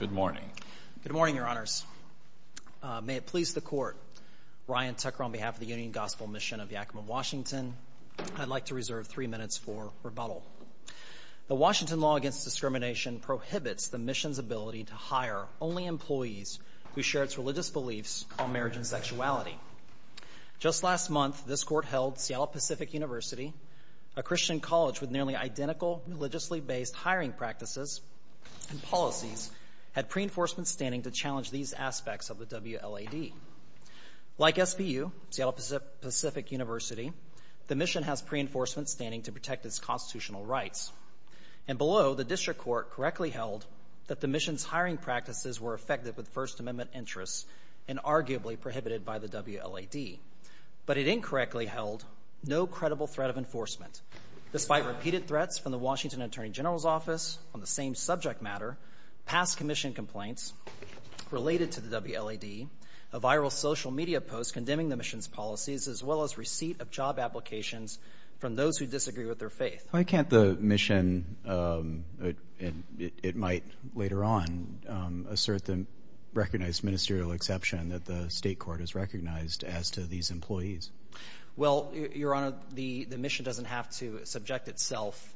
Good morning, Your Honors. May it please the Court, Ryan Tucker on behalf of the Union Gospel Mission of Yakima Washington, I'd like to reserve three minutes for rebuttal. The Washington law against discrimination prohibits the Mission's ability to hire only employees who share its religious beliefs on marriage and sexuality. Just last month, this Court held Seattle Pacific University, a Christian college with nearly identical religiously based hiring practices and policies, had pre-enforcement standing to challenge these aspects of the WLAD. Like SPU, Seattle Pacific University, the Mission has pre-enforcement standing to protect its constitutional rights. And below, the District Court correctly held that the Mission's hiring practices were effective with First Amendment interests and arguably prohibited by the WLAD. But it incorrectly held no credible threat of enforcement. Despite repeated threats from the Washington Attorney General's Office on the same subject matter, past Commission complaints related to the WLAD, a viral social media post condemning the Mission's policies, as well as receipt of job applications from those who disagree with their faith. Why can't the Mission, it might later on, assert the recognized ministerial exception that the State Court has recognized as to these employees? Well, Your Honor, the Mission doesn't have to subject itself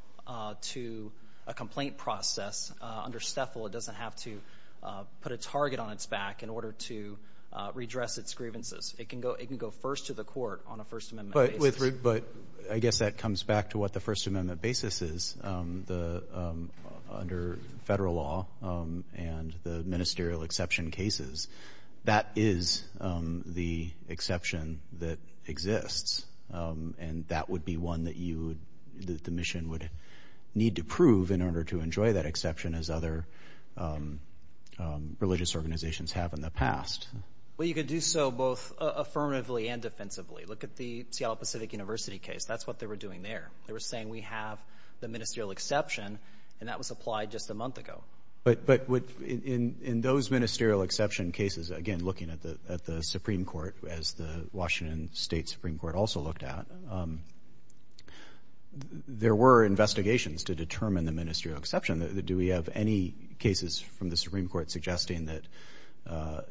to a complaint process under STEFL. It doesn't have to put a target on its back in order to redress its grievances. It can go first to the Court on a First Amendment basis. But I guess that comes back to what the First Amendment basis is. Under federal law and the ministerial exception cases, that is the exception that exists. And that would be one that the Mission would need to prove in order to enjoy that exception as other religious organizations have in the past. Well, you could do so both affirmatively and defensively. Look at the Seattle Pacific University case. That's what they were doing there. They were saying, we have the ministerial exception and that was applied just a month ago. But in those ministerial exception cases, again, looking at the Supreme Court, as the Washington State Supreme Court also looked at, there were investigations to determine the ministerial exception. Do we have any cases from the Supreme Court suggesting that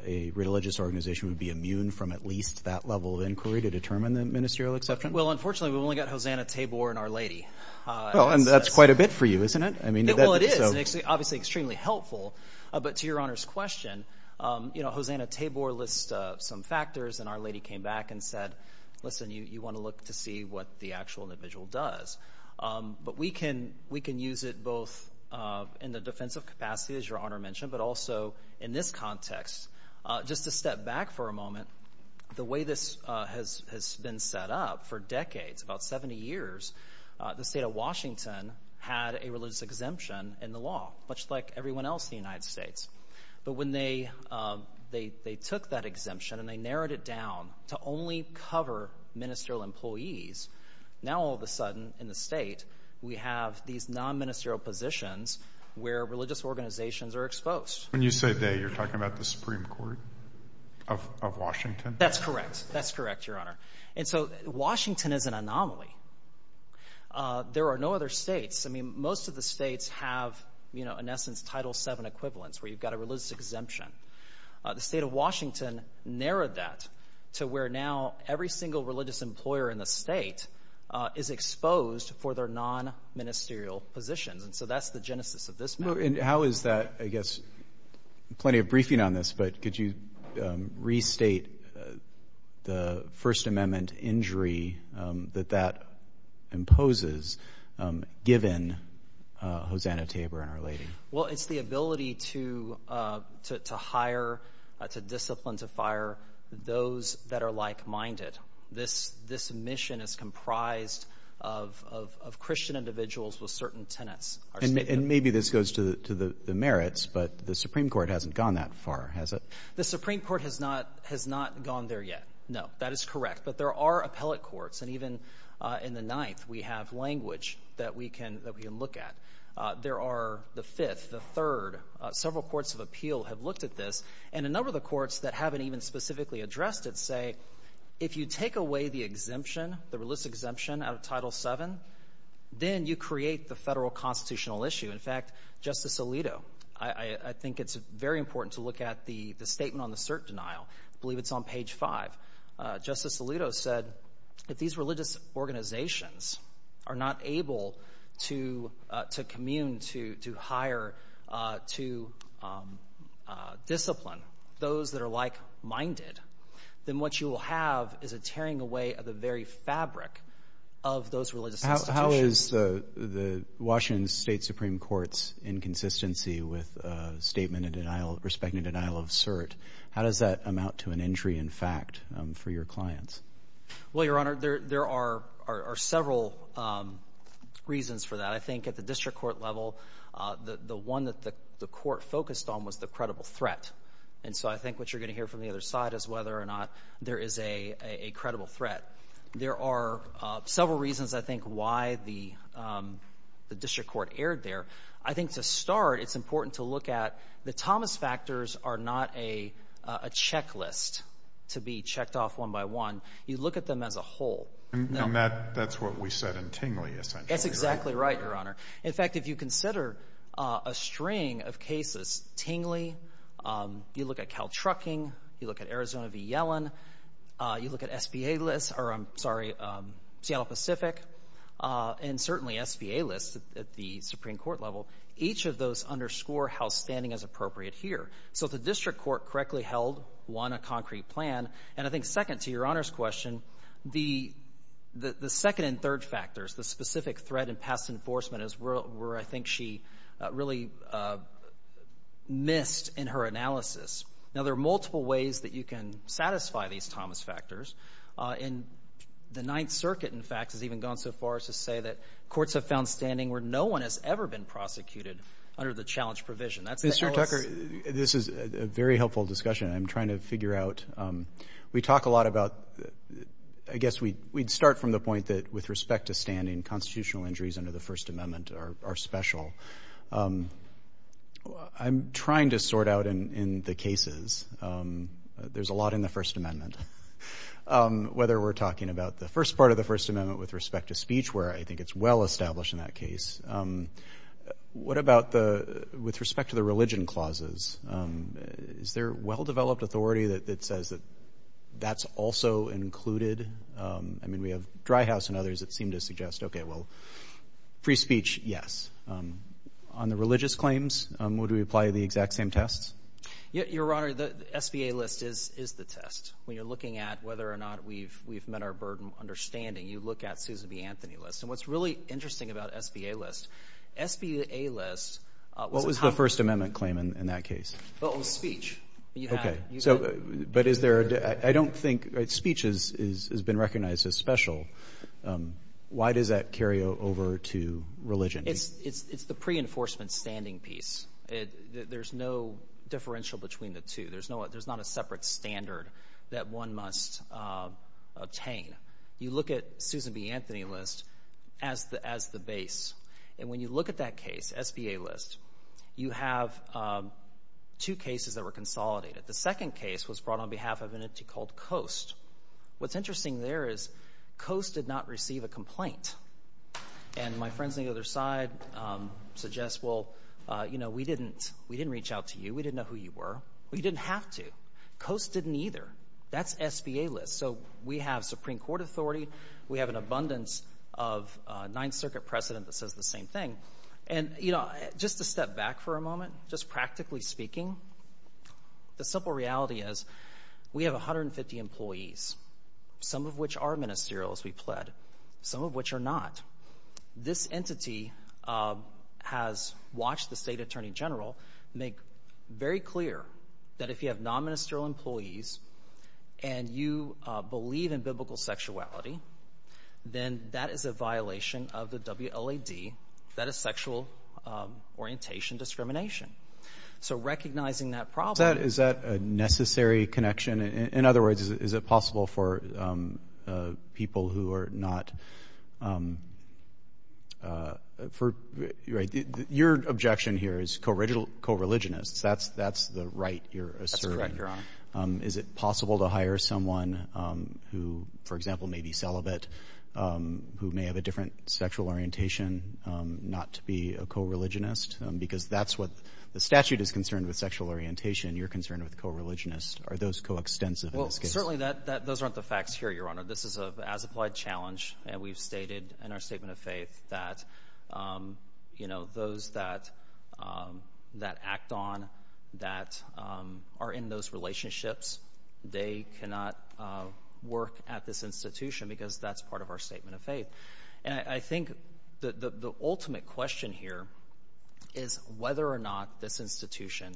a religious organization would be immune from at least that level of inquiry to determine the ministerial exception? Well, unfortunately, we've only got Hosanna Tabor and Our Lady. Well, and that's quite a bit for you, isn't it? Well, it is, obviously extremely helpful. But to Your Honor's question, you know, Hosanna Tabor lists some factors and Our Lady came back and said, listen, you want to look to see what the actual individual does. But we can we can use it both in the defensive capacity, as Your Honor mentioned, but also in this context. Just to step back for a moment, the way this has has been set up for decades, about 70 years, the state of Washington had a religious exemption in the law, much like everyone else in the United States. But when they they took that exemption and they narrowed it down to only cover ministerial employees, now all of a sudden in the state we have these non-ministerial positions where religious organizations are exposed. When you say they, you're talking about the Supreme Court of Washington? That's correct. That's correct, Your Honor. And so Washington is an anomaly. There are no other states. I mean, most of the states have, you know, in essence, Title VII equivalents, where you've got a religious exemption. The state of Washington narrowed that to where now every single religious employer in the state is exposed for their non-ministerial positions. And so that's the genesis of this. And how is that, I guess, plenty of briefing on this, but could you restate the First Amendment injury that that imposes, given Hosanna Tabor and Her Lady? Well, it's the ability to hire, to discipline, to fire those that are like-minded. This mission is comprised of Christian individuals with certain tenets. And maybe this goes to the merits, but the Supreme Court hasn't gone that far, has it? The Supreme Court has not gone there yet. No, that is correct. But there are appellate courts. And even in the Ninth, we have language that we can look at. There are the Fifth, the Third. Several courts of appeal have looked at this. And a number of the courts that haven't even specifically addressed it say, if you take away the exemption, the religious exemption out of Title VII, then you create the federal constitutional issue. In fact, Justice Alito, I think it's very important to look at the statement on the cert denial. I believe it's on page 5. Justice Alito said, if these religious organizations are not able to commune, to hire, to discipline those that are like-minded, then what you will have is a tearing away of the very fabric of those religious institutions. How is the Washington State Supreme Court's inconsistency with respect to denial of cert? How does that amount to an injury in fact for your clients? Well, Your Honor, there are several reasons for that. I think at the district court level, the one that the court focused on was the credible threat. And so I think what you're going to hear from the other side is whether or not there is a credible threat. There are several reasons, I think, why the district court erred there. I think to start, it's important to look at the Thomas factors are not a checklist to be checked off one by one. You look at them as a whole. And that's what we said in Tingley essentially, right? That's exactly right, Your Honor. In fact, if you consider a string of cases, Tingley, you look at Caltrucking, you look at Arizona v. Yellen, you look at SBA lists, or I'm sorry, Seattle Pacific, and certainly SBA lists at the Supreme Court level, each of those underscore how standing is appropriate here. So if the district court correctly held, one, a concrete plan, and I think second to Your Honor's question, the second and third factors, the specific threat and past enforcement is where I think she really missed in her analysis. Now, there are multiple ways that you can satisfy these Thomas factors. And the Ninth Circuit, in fact, has even gone so far as to say that courts have found standing where no one has ever been prosecuted under the challenge provision. That's the L.S. Mr. Tucker, this is a very helpful discussion. I'm trying to figure out. We talk a lot about I guess we'd start from the point that with respect to standing, constitutional injuries under the First Amendment are special. I'm trying to sort out in the cases. There's a lot in the First Amendment. Whether we're talking about the first part of the First Amendment with respect to speech, where I think it's well established in that case. What about with respect to the clauses? Is there well-developed authority that says that that's also included? I mean, we have Dry House and others that seem to suggest, okay, well, free speech, yes. On the religious claims, would we apply the exact same tests? Your Honor, the SBA list is the test. When you're looking at whether or not we've met our burden, understanding, you look at Susan B. Anthony list. And what's really interesting about SBA list, SBA list... What was the First Amendment claim in that case? Well, it was speech. Okay. So, but is there... I don't think speech has been recognized as special. Why does that carry over to religion? It's the pre-enforcement standing piece. There's no differential between the two. There's not a separate standard that one must obtain. You look at Susan B. Anthony list as the base. And when you look at that case, SBA list, you have two cases that were consolidated. The second case was brought on behalf of an entity called Coast. What's interesting there is Coast did not receive a complaint. And my friends on the other side suggest, well, you know, we didn't reach out to you. We didn't know who you were. We didn't have to. Coast didn't either. That's SBA list. So we have Supreme Court authority. We have an abundance of Ninth Circuit precedent that says the same thing. And, you know, just to step back for a moment, just practically speaking, the simple reality is we have 150 employees, some of which are ministerial as we pled, some of which are not. This entity has watched the state attorney general make very clear that if you have non-ministerial employees and you believe in biblical sexuality, then that is a violation of the WLAD. That is sexual orientation discrimination. So recognizing that problem. Is that a necessary connection? In other words, is it possible for people who are not? Your objection here is co-religionists. That's the right you're asserting. That's correct, Your Honor. Is it possible to hire someone who, for example, may be celibate, who may have a different sexual orientation, not to be a co-religionist? Because that's what the statute is concerned with, sexual orientation. You're concerned with co-religionists. Are those co-extensive in this case? Well, certainly those aren't the facts here, Your Honor. This is a as applied challenge. And we've stated in our statement of faith that, you know, those that act on that are in those relationships, they cannot work at this institution because that's part of our statement of faith. And I think the ultimate question here is whether or not this institution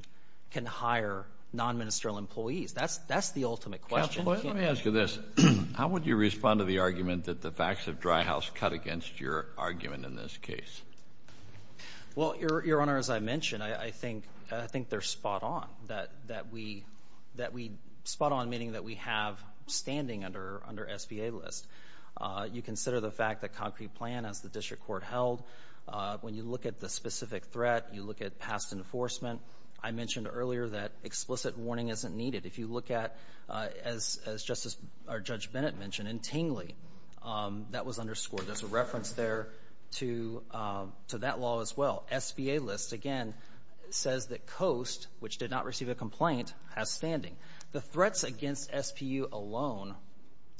can hire non-ministerial employees. That's that's the ultimate question. Let me ask you this. How would you respond to the argument that the facts of Dry House cut against your argument in this case? Well, Your Honor, as I mentioned, I think I think they're spot-on that that we that we spot on meaning that we have standing under under SBA list. You consider the fact that concrete plan as the district court held, when you look at the specific threat, you look at past enforcement. I mentioned earlier that explicit warning isn't needed. If you look at, as Justice or Judge Bennett mentioned, in Tingley, that was underscored. There's a reference there to to that law as well. SBA list, again, says that Coast, which did not receive a complaint, has standing. The threats against SPU alone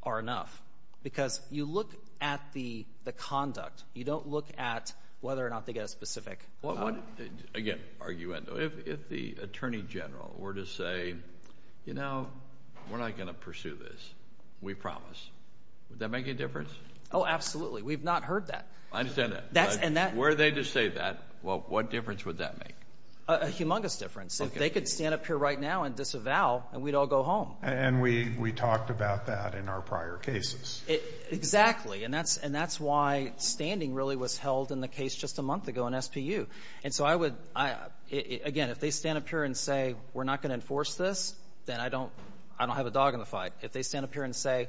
are enough because you look at the the conduct. You don't look at whether or not they get a specific. Again, argument, though, if the Attorney General were to say, you know, we're not going to pursue this, we promise. Would that make a difference? Oh, absolutely. We've not heard that. I understand that. That's and that where they just say that. Well, what difference would that make? A humongous difference. If they could stand up here right now and disavow and we'd all go home. And we we talked about that in our prior cases. Exactly. And that's and that's why standing really was held in the case just a month ago in SPU. And so I would again, if they stand up here and say, we're not going to enforce this, then I don't I don't have a dog in the fight. If they stand up here and say,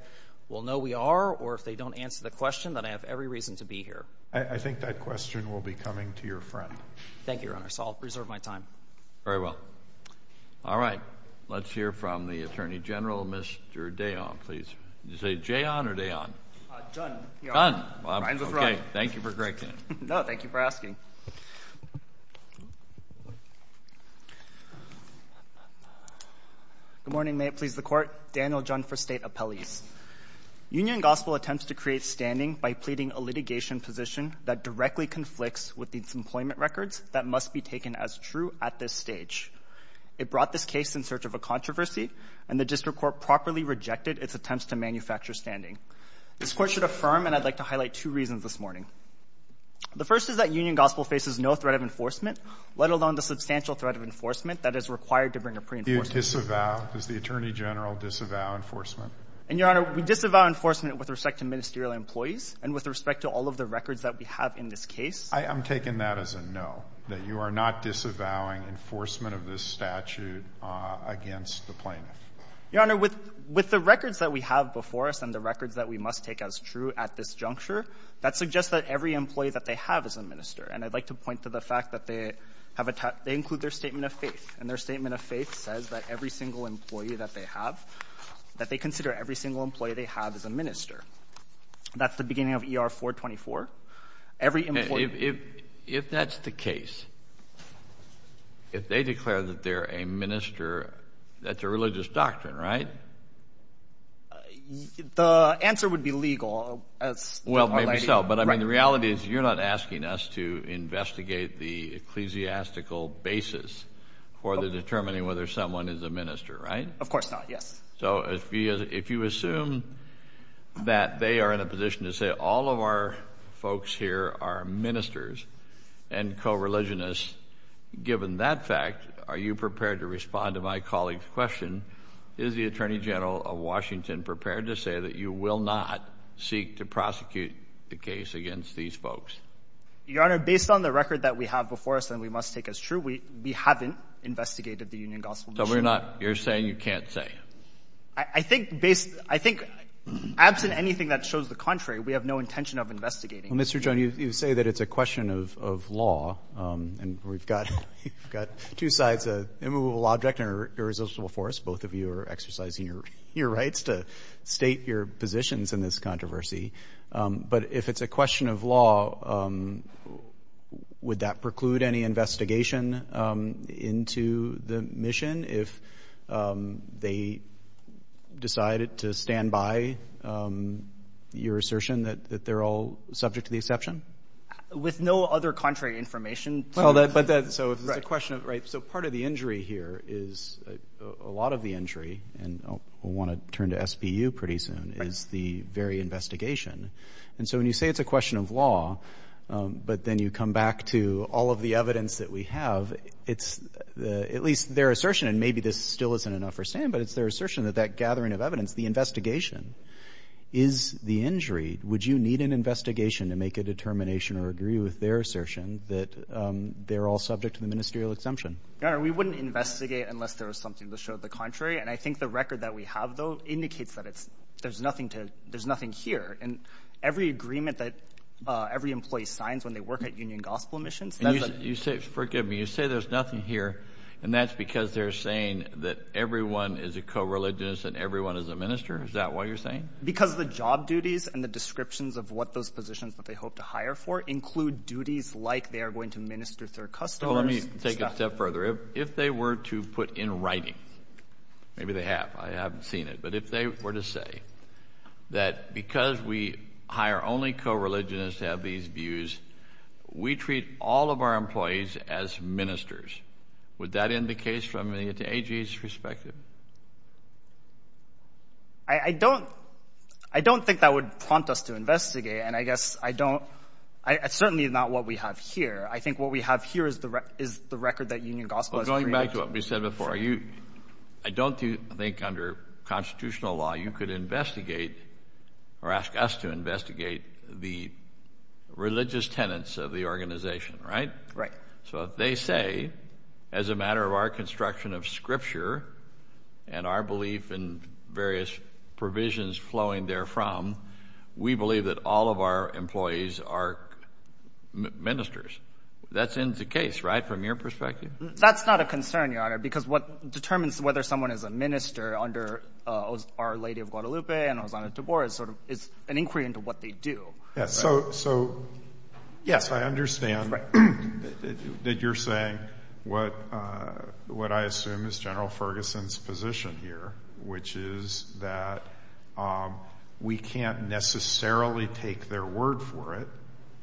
well, no, we are. Or if they don't answer the question that I have every reason to be here. I think that question will be coming to your friend. Thank you, Your Honor. So I'll preserve my time. Very well. All right. Let's hear from the Attorney General. Mr Day on, please. You say Jay on or day on? Done. Done. Thank you for asking. Good morning. May it please the court. Daniel John for state appellees. Union Gospel attempts to create standing by pleading a litigation position that directly conflicts with these employment records that must be taken as true at this stage. It brought this case in search of a controversy and the district court properly rejected its attempts to manufacture standing. This court should affirm and I'd like to highlight two reasons this morning. The first is that Union Gospel faces no threat of enforcement, let alone the substantial threat of enforcement that is required to bring a pre-enforcement. Do you disavow? Does the Attorney General disavow enforcement? And, Your Honor, we disavow enforcement with respect to ministerial employees and with respect to all of the records that we have in this case. I'm taking that as a no, that you are not disavowing enforcement of this statute against the plaintiff. Your Honor, with the records that we have before us and the records that we must take as true at this juncture, that suggests that every employee that they have is a minister. And I'd like to point to the fact that they have a they include their statement of faith and their statement of faith says that every single employee that they have that they consider every single employee they have is a minister. That's the beginning of ER 424. Every employee. If that's the case, if they declare that they're a minister, that's a religious doctrine, right? The answer would be legal as well. Maybe so. But I mean, the reality is you're not asking us to investigate the ecclesiastical basis for the determining whether someone is a minister, right? Of course not. Yes. So if you assume that they are in a position to say all of our folks here are ministers and co-religionists, given that fact, are you prepared to respond to my colleague's question? Is the Attorney General of Washington prepared to say that you will not seek to prosecute the case against these folks? Your Honor, based on the record that we have before us and we must take as true, we haven't investigated the union gospel. So we're not you're saying you can't say I think based I think absent anything that shows the contrary, we have no intention of investigating Mr. John, you say that it's a question of law. And we've got we've got two sides, a immovable object or irresistible force. Both of you are exercising your your rights to state your positions in this controversy. But if it's a question of law, would that preclude any investigation into the mission if they decided to stand by your assertion that that they're all subject to the exception with no other contrary information? But that's a question of right. So part of the injury here is a lot of the injury. And I want to turn to SBU pretty soon is the very investigation. And so when you say it's a question of law, but then you come back to all of the evidence that we have, it's at least their assertion. And maybe this still isn't enough for Sam, but it's their assertion that that gathering of evidence, the investigation is the injury. Would you need an investigation to make a determination or agree with their assertion that they're all subject to the ministerial exemption? No, we wouldn't investigate unless there was something to show the contrary. And I think the record that we have, though, indicates that it's there's nothing to there's nothing here. And every agreement that every employee signs when they work at Union Gospel Missions, you say, forgive me, you say there's nothing here. And that's because they're saying that everyone is a co-religionist and everyone is a minister. Is that what you're saying? Because the job duties and the descriptions of what those positions that they hope to hire for include duties like they are going to minister to their customers. Let me take it a step further. If they were to put in writing, maybe they have. I haven't seen it. But if they were to say that because we hire only co-religionists have these views, we treat all of our employees as ministers. Would that in the case from the perspective? I don't I don't think that would prompt us to investigate. And I guess I don't I certainly not what we have here. I think what we have here is the is the record that Union Gospel is going back to what we said before you. I don't think under constitutional law you could investigate or ask us to investigate the religious tenets of the organization. Right. Right. So they say as a matter of our construction of scripture and our belief in various provisions flowing there from, we believe that all of our employees are ministers. That's in the case. Right. From your perspective, that's not a concern, your honor, because what determines whether someone is a minister under Our Lady of Guadalupe and Osana Tibor is sort of is an inquiry into what they do. Yes. So. So, yes, I understand that you're saying what what I assume is General Ferguson's position here, which is that we can't necessarily take their word for it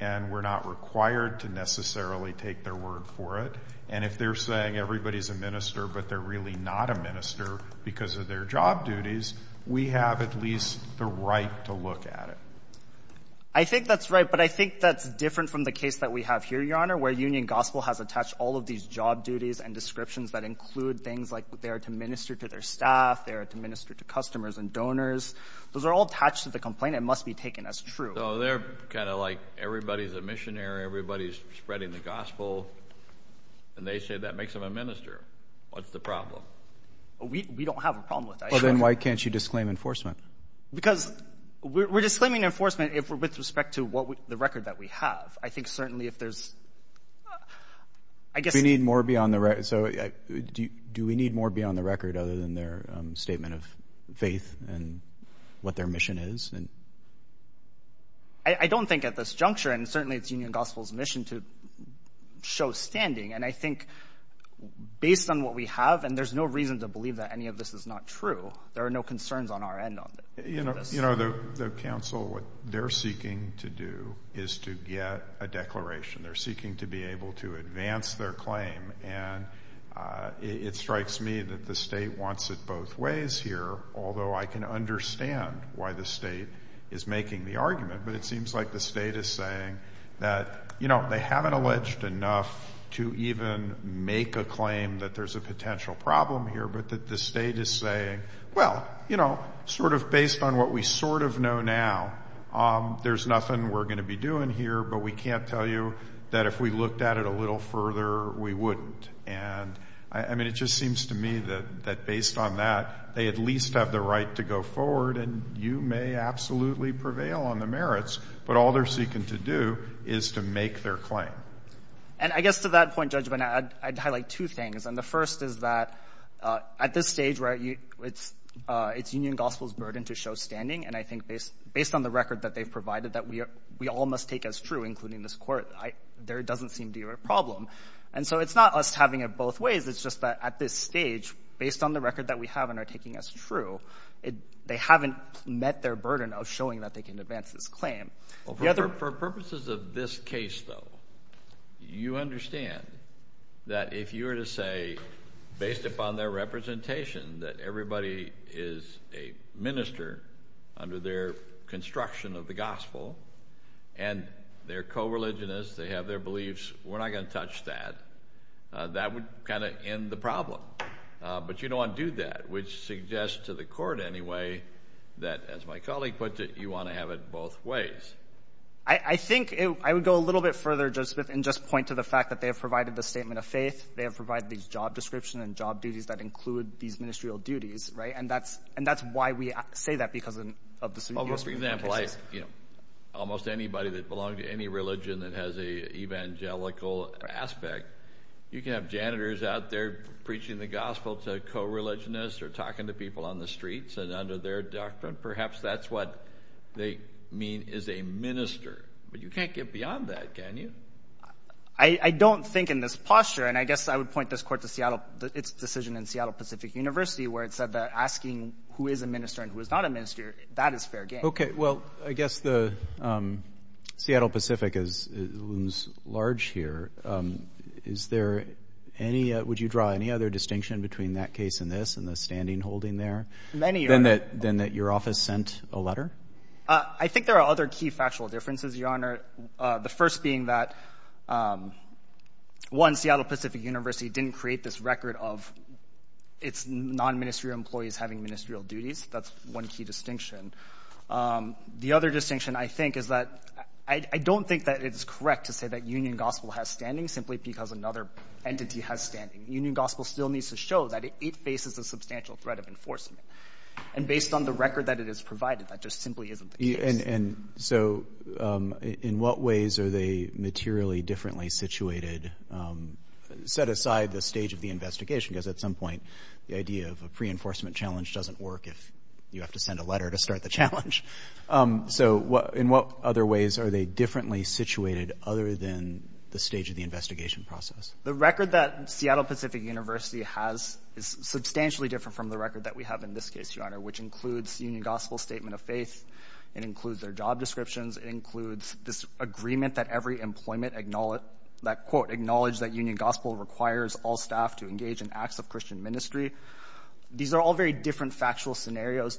and we're not required to necessarily take their word for it. And if they're saying everybody's a minister, but they're really not a minister because of their job duties, we have at least the right to look at it. I think that's right. But I think that's different from the case that we have here, your honor, where Union Gospel has attached all of these job duties and descriptions that include things like they are to minister to their staff, they are to minister to customers and donors. Those are all attached to the complaint. It must be taken as true. So they're kind of like everybody's a missionary, everybody's spreading the gospel. And they say that makes them a minister. What's the problem? We don't have a problem with that. Well, then why can't you disclaim enforcement? Because we're disclaiming enforcement if we're with respect to what the record that we have. I think certainly if there's. I guess we need more beyond the record. So do we need more beyond the record other than their statement of faith and what their mission is? I don't think at this juncture, and certainly it's Union Gospel's mission to show standing. And I think based on what we have, and there's no reason to believe that any of this is not true. There are no concerns on our end. You know, the council, what they're seeking to do is to get a declaration. They're seeking to be able to advance their claim. And it strikes me that the state wants it both ways here. Although I can understand why the state is making the argument. But it seems like the state is saying that, you know, they haven't alleged enough to even make a claim that there's a potential problem here. But that the state is saying, well, you know, sort of based on what we sort of know now, there's nothing we're going to be doing here. But we can't tell you that if we looked at it a little further, we wouldn't. And I mean, it just seems to me that based on that, they at least have the right to go forward. And you may absolutely prevail on the merits. But all they're seeking to do is to make their claim. And I guess to that point, Judge, I'd highlight two things. And the first is that at this stage, it's Union Gospel's burden to show standing. And I think based on the record that they've provided that we all must take as true, including this court, there doesn't seem to be a problem. And so it's not us having it both ways. It's just that at this stage, based on the record that we have and are taking as true, they haven't met their burden of showing that they can advance this claim. For purposes of this case, though, you understand that if you were to say, based upon their representation, that everybody is a minister under their construction of the gospel, and they're co-religionists, they have their beliefs, we're not going to touch that. That would kind of end the problem. But you don't want to do that, which suggests to the court, anyway, that as my colleague puts it, you want to have it both ways. I think I would go a little bit further, Judge Smith, and just point to the fact that they have provided the statement of faith. They have provided these job descriptions and job duties that include these ministerial duties, right? And that's why we say that, because of the submission of the case. Well, for example, almost anybody that belongs to any religion that has an evangelical aspect, you can have janitors out there preaching the gospel to co-religionists, or talking to people on the streets, and under their doctrine, perhaps that's what they mean is a minister. But you can't get beyond that, can you? I don't think in this posture, and I guess I would point this court to its decision in Seattle Pacific University, where it said that asking who is a minister and who is not a minister, that is fair game. Okay, well, I guess the Seattle Pacific looms large here. Is there any, would you draw any other distinction between that case and this, and the standing holding there? Many are. Than that your office sent a letter? I think there are other key factual differences, Your Honor. The first being that, one, Seattle Pacific University didn't create this record of its non-ministerial employees having ministerial duties. That's one key distinction. The other distinction, I think, is that I don't think that it is correct to say that Union Gospel has standing simply because another entity has standing. Union Gospel still needs to show that it faces a substantial threat of enforcement. And based on the record that it has provided, that just simply isn't the And so, in what ways are they materially differently situated? Set aside the stage of the investigation, because at some point, the idea of a pre-enforcement challenge doesn't work if you have to send a letter to start the challenge. So, in what other ways are they differently situated other than the stage of the investigation process? The record that Seattle Pacific University has is substantially different from the record that we have in this case, Your Honor, which includes Union Gospel's statement of faith. It includes their job descriptions. It includes this agreement that every employment acknowledge that Union Gospel requires all staff to engage in acts of Christian ministry. These are all very different factual scenarios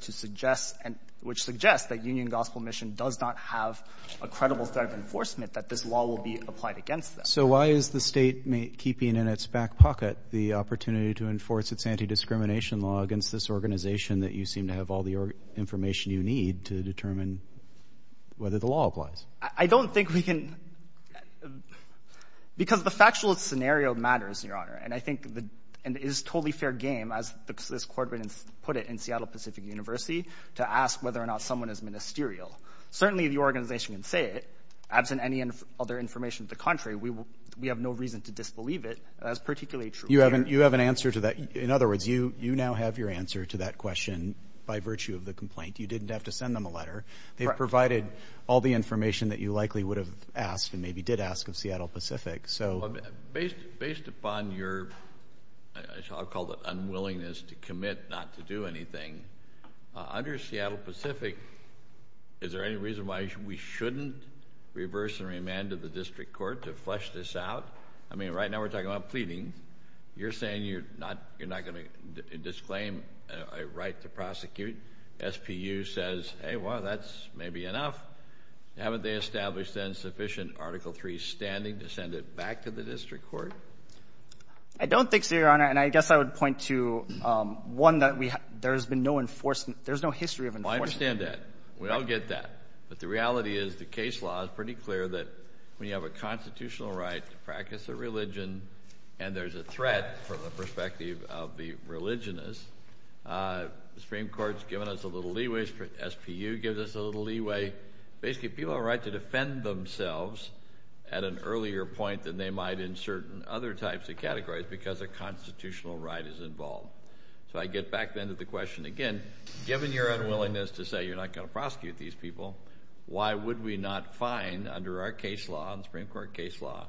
which suggest that Union Gospel Mission does not have a credible threat of enforcement, that this law will be applied against them. So why is the state keeping in its back pocket the opportunity to enforce its anti-discrimination law against this organization that you seem to have all the information you need to determine whether the law applies? I don't think we can... Because the factual scenario matters, Your Honor, and I think it is a totally fair game, as this court put it in Seattle Pacific University, to ask whether or not someone is ministerial. Certainly, the organization can say it. Absent any other information to the contrary, we have no reason to disbelieve it. That's particularly true here. You have an answer to that. In other words, you now have your answer to that question by virtue of the complaint. You didn't have to send them a letter. They provided all the information that you likely would have asked, and maybe did ask, of Seattle Pacific. Based upon your, I'll call it unwillingness to commit not to do anything, under Seattle Pacific, is there any reason why we shouldn't reverse and remand the district court to flesh this out? I mean, right now we're talking about pleading. You're saying you're not going to disclaim a right to prosecute. SPU says, hey, well, that's maybe enough. Haven't they established, then, sufficient Article III standing to send it back to the district court? I don't think so, Your Honor. And I guess I would point to one that we have — there has been no enforcement — there's no history of enforcement. Well, I understand that. We all get that. But the reality is the case law is pretty clear that when you have a constitutional right to practice a religion and there's a threat from the perspective of the religionist, the Supreme Court's given us a little leeway, SPU gives us a little leeway. Basically, people have a right to defend themselves at an earlier point than they might in certain other types of categories because a constitutional right is involved. So I get back, then, to the question, again, given your unwillingness to say you're not going to prosecute these people, why would we not find, under our case law, the Supreme Court case law,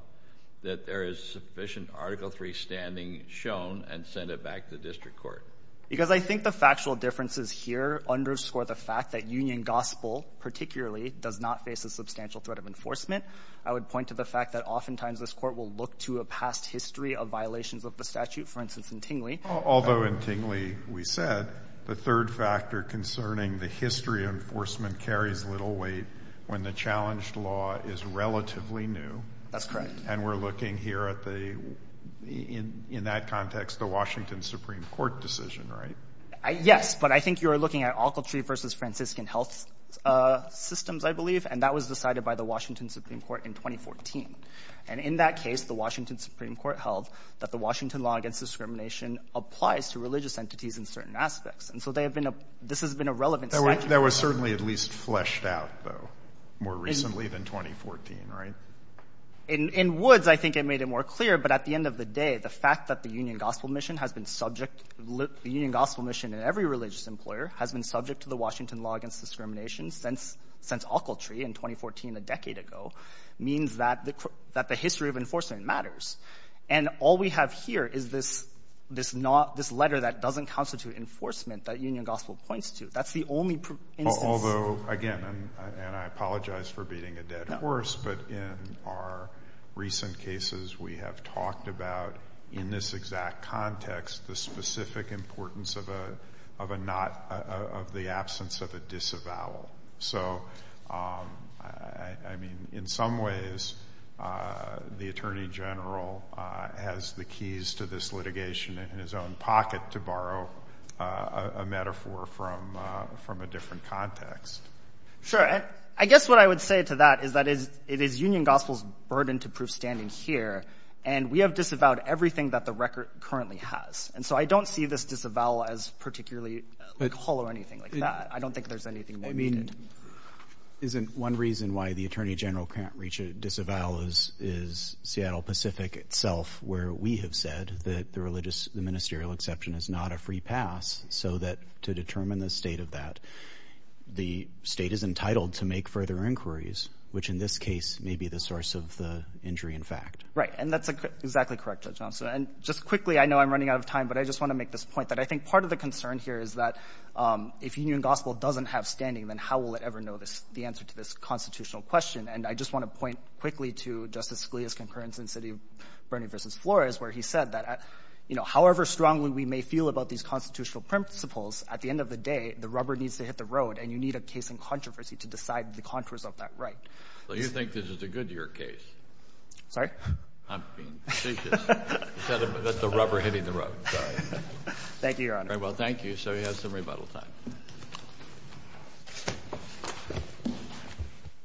that there is sufficient Article III standing shown and send it back to the district court? Because I think the factual differences here underscore the fact that union gospel, particularly, does not face a substantial threat of enforcement. I would point to the fact that oftentimes this Court will look to a past history of violations of the statute. For instance, in Tingley — Although in Tingley, we said the third factor concerning the history of enforcement carries little weight when the challenged law is relatively new. That's correct. And we're looking here at the, in that context, the Washington Supreme Court decision, right? Yes, but I think you're looking at Alcaltree versus Franciscan health systems, I believe, and that was decided by the Washington Supreme Court in 2014. And in that case, the Washington Supreme Court held that the Washington law against discrimination applies to religious entities in certain aspects. And so they have been — this has been a relevant statute. That was certainly at least fleshed out, though, more recently than 2014, right? In Woods, I think it made it more clear, but at the end of the day, the fact that the union gospel mission has been subject — the union gospel mission in every religious employer has been subject to the Washington law against discrimination since Alcaltree in 2014, a decade ago, means that the history of enforcement matters. And all we have here is this not — this letter that doesn't constitute enforcement that union gospel points to. That's the only instance — Although, again, and I apologize for beating a dead horse, but in our recent cases, we have talked about, in this exact context, the specific importance of a not — of the absence of a disavowal. So, I mean, in some ways, the Attorney General has the keys to this litigation in his own pocket, to borrow a metaphor from a different context. Sure. And I guess what I would say to that is that it is union gospel's burden to prove standing here, and we have disavowed everything that the record currently has. And so I don't see this disavowal as particularly — like, whole or anything like that. I don't think there's anything more needed. I mean, isn't one reason why the Attorney General can't reach a disavowal is Seattle Pacific itself, where we have said that the religious — the ministerial exception is not a free pass, so that to determine the state of that, the state is entitled to make further inquiries, which, in this case, may be the source of the injury in fact. Right. And that's exactly correct, Judge Thompson. And just quickly, I know I'm running out of time, but I just want to make this point, that I think part of the concern here is that if union gospel doesn't have standing, then how will it ever know this — the answer to this constitutional question? And I just want to point quickly to Justice Scalia's concurrence in City of Bernie v. Flores, where he said that, you know, however strongly we may feel about these constitutional principles, at the end of the day, the rubber needs to hit the road, and you need a case in controversy to decide the contours of that right. Well, you think this is a Goodyear case. Sorry? I'm being facetious. That's the rubber hitting the road. Sorry. Thank you, Your Honor. All right. Well, thank you. So we have some rebuttal time.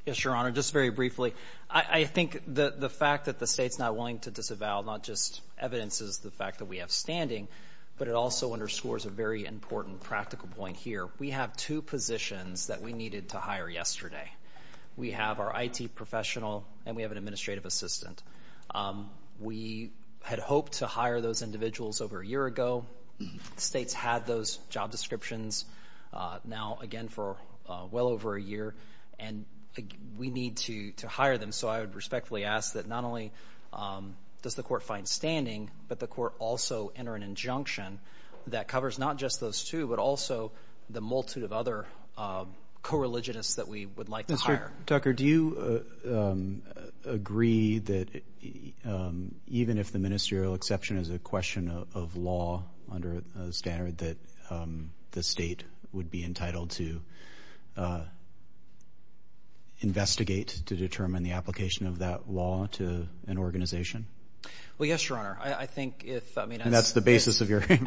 Yes, Your Honor. Just very briefly, I think the fact that the State's not willing to disavow not just evidences the fact that we have standing, but it also underscores a very important practical point here. We have two positions that we needed to hire yesterday. We have our IT professional and we have an administrative assistant. We had hoped to hire those individuals over a number of years, job descriptions, now again for well over a year, and we need to hire them. So I would respectfully ask that not only does the Court find standing, but the Court also enter an injunction that covers not just those two, but also the multitude of other co-religionists that we would like to hire. Mr. Tucker, do you agree that even if the ministerial exception is a question of law under a standard that the State would be entitled to investigate to determine the application of that law to an organization? Well, yes, Your Honor. I think if, I mean, that's the basis of your claim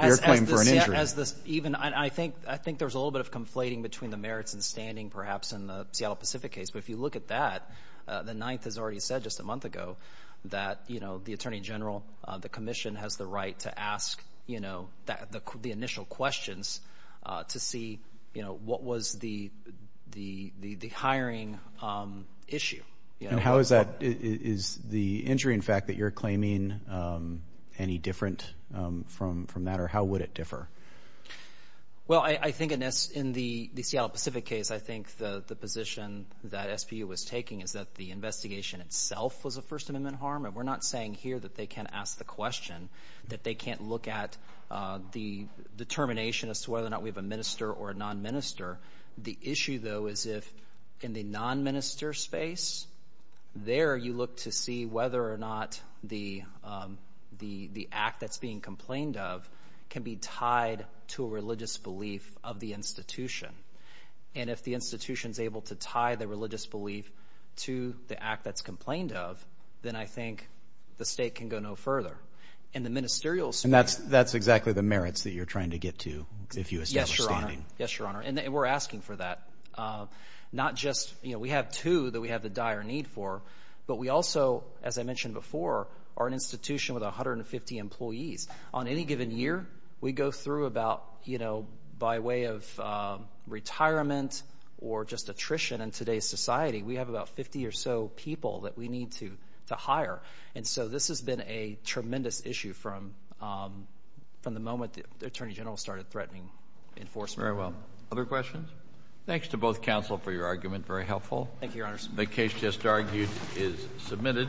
for an injury. As this even, I think there's a little bit of conflating between the merits and standing perhaps in the Seattle Pacific case. But if you look at that, the Ninth has already said just a month ago that, you know, the Attorney General, the Commission has the right to ask, you know, the initial questions to see, you know, what was the hiring issue, you know. How is that, is the injury in fact that you're claiming any different from that or how would it differ? Well, I think in this, in the Seattle Pacific case, I think the position that SPU was taking is that the investigation itself was a First Amendment harm. And we're not saying here that they can't ask the question, that they can't look at the determination as to whether or not we have a minister or a non-minister. The issue, though, is if in the non-minister space, there you look to see whether or not the act that's being complained of can be tied to a religious belief of the institution. And if the institution's able to tie the religious belief to the act that's complained of, then I think the state can go no further. And the ministerial space... And that's, that's exactly the merits that you're trying to get to, if you assume... Yes, Your Honor. Yes, Your Honor. And we're asking for that. Not just, you know, we have two that we have the dire need for, but we also, as I mentioned before, are an institution with 150 employees. On any given year, we go through about, you know, by way of retirement or just attrition in today's society, we have about 50 or so people that we need to hire. And so this has been a tremendous issue from the moment the Attorney General started threatening enforcement. Very well. Other questions? Thanks to both counsel for your argument. Very helpful. Thank you, Your Honors. The case just argued is submitted.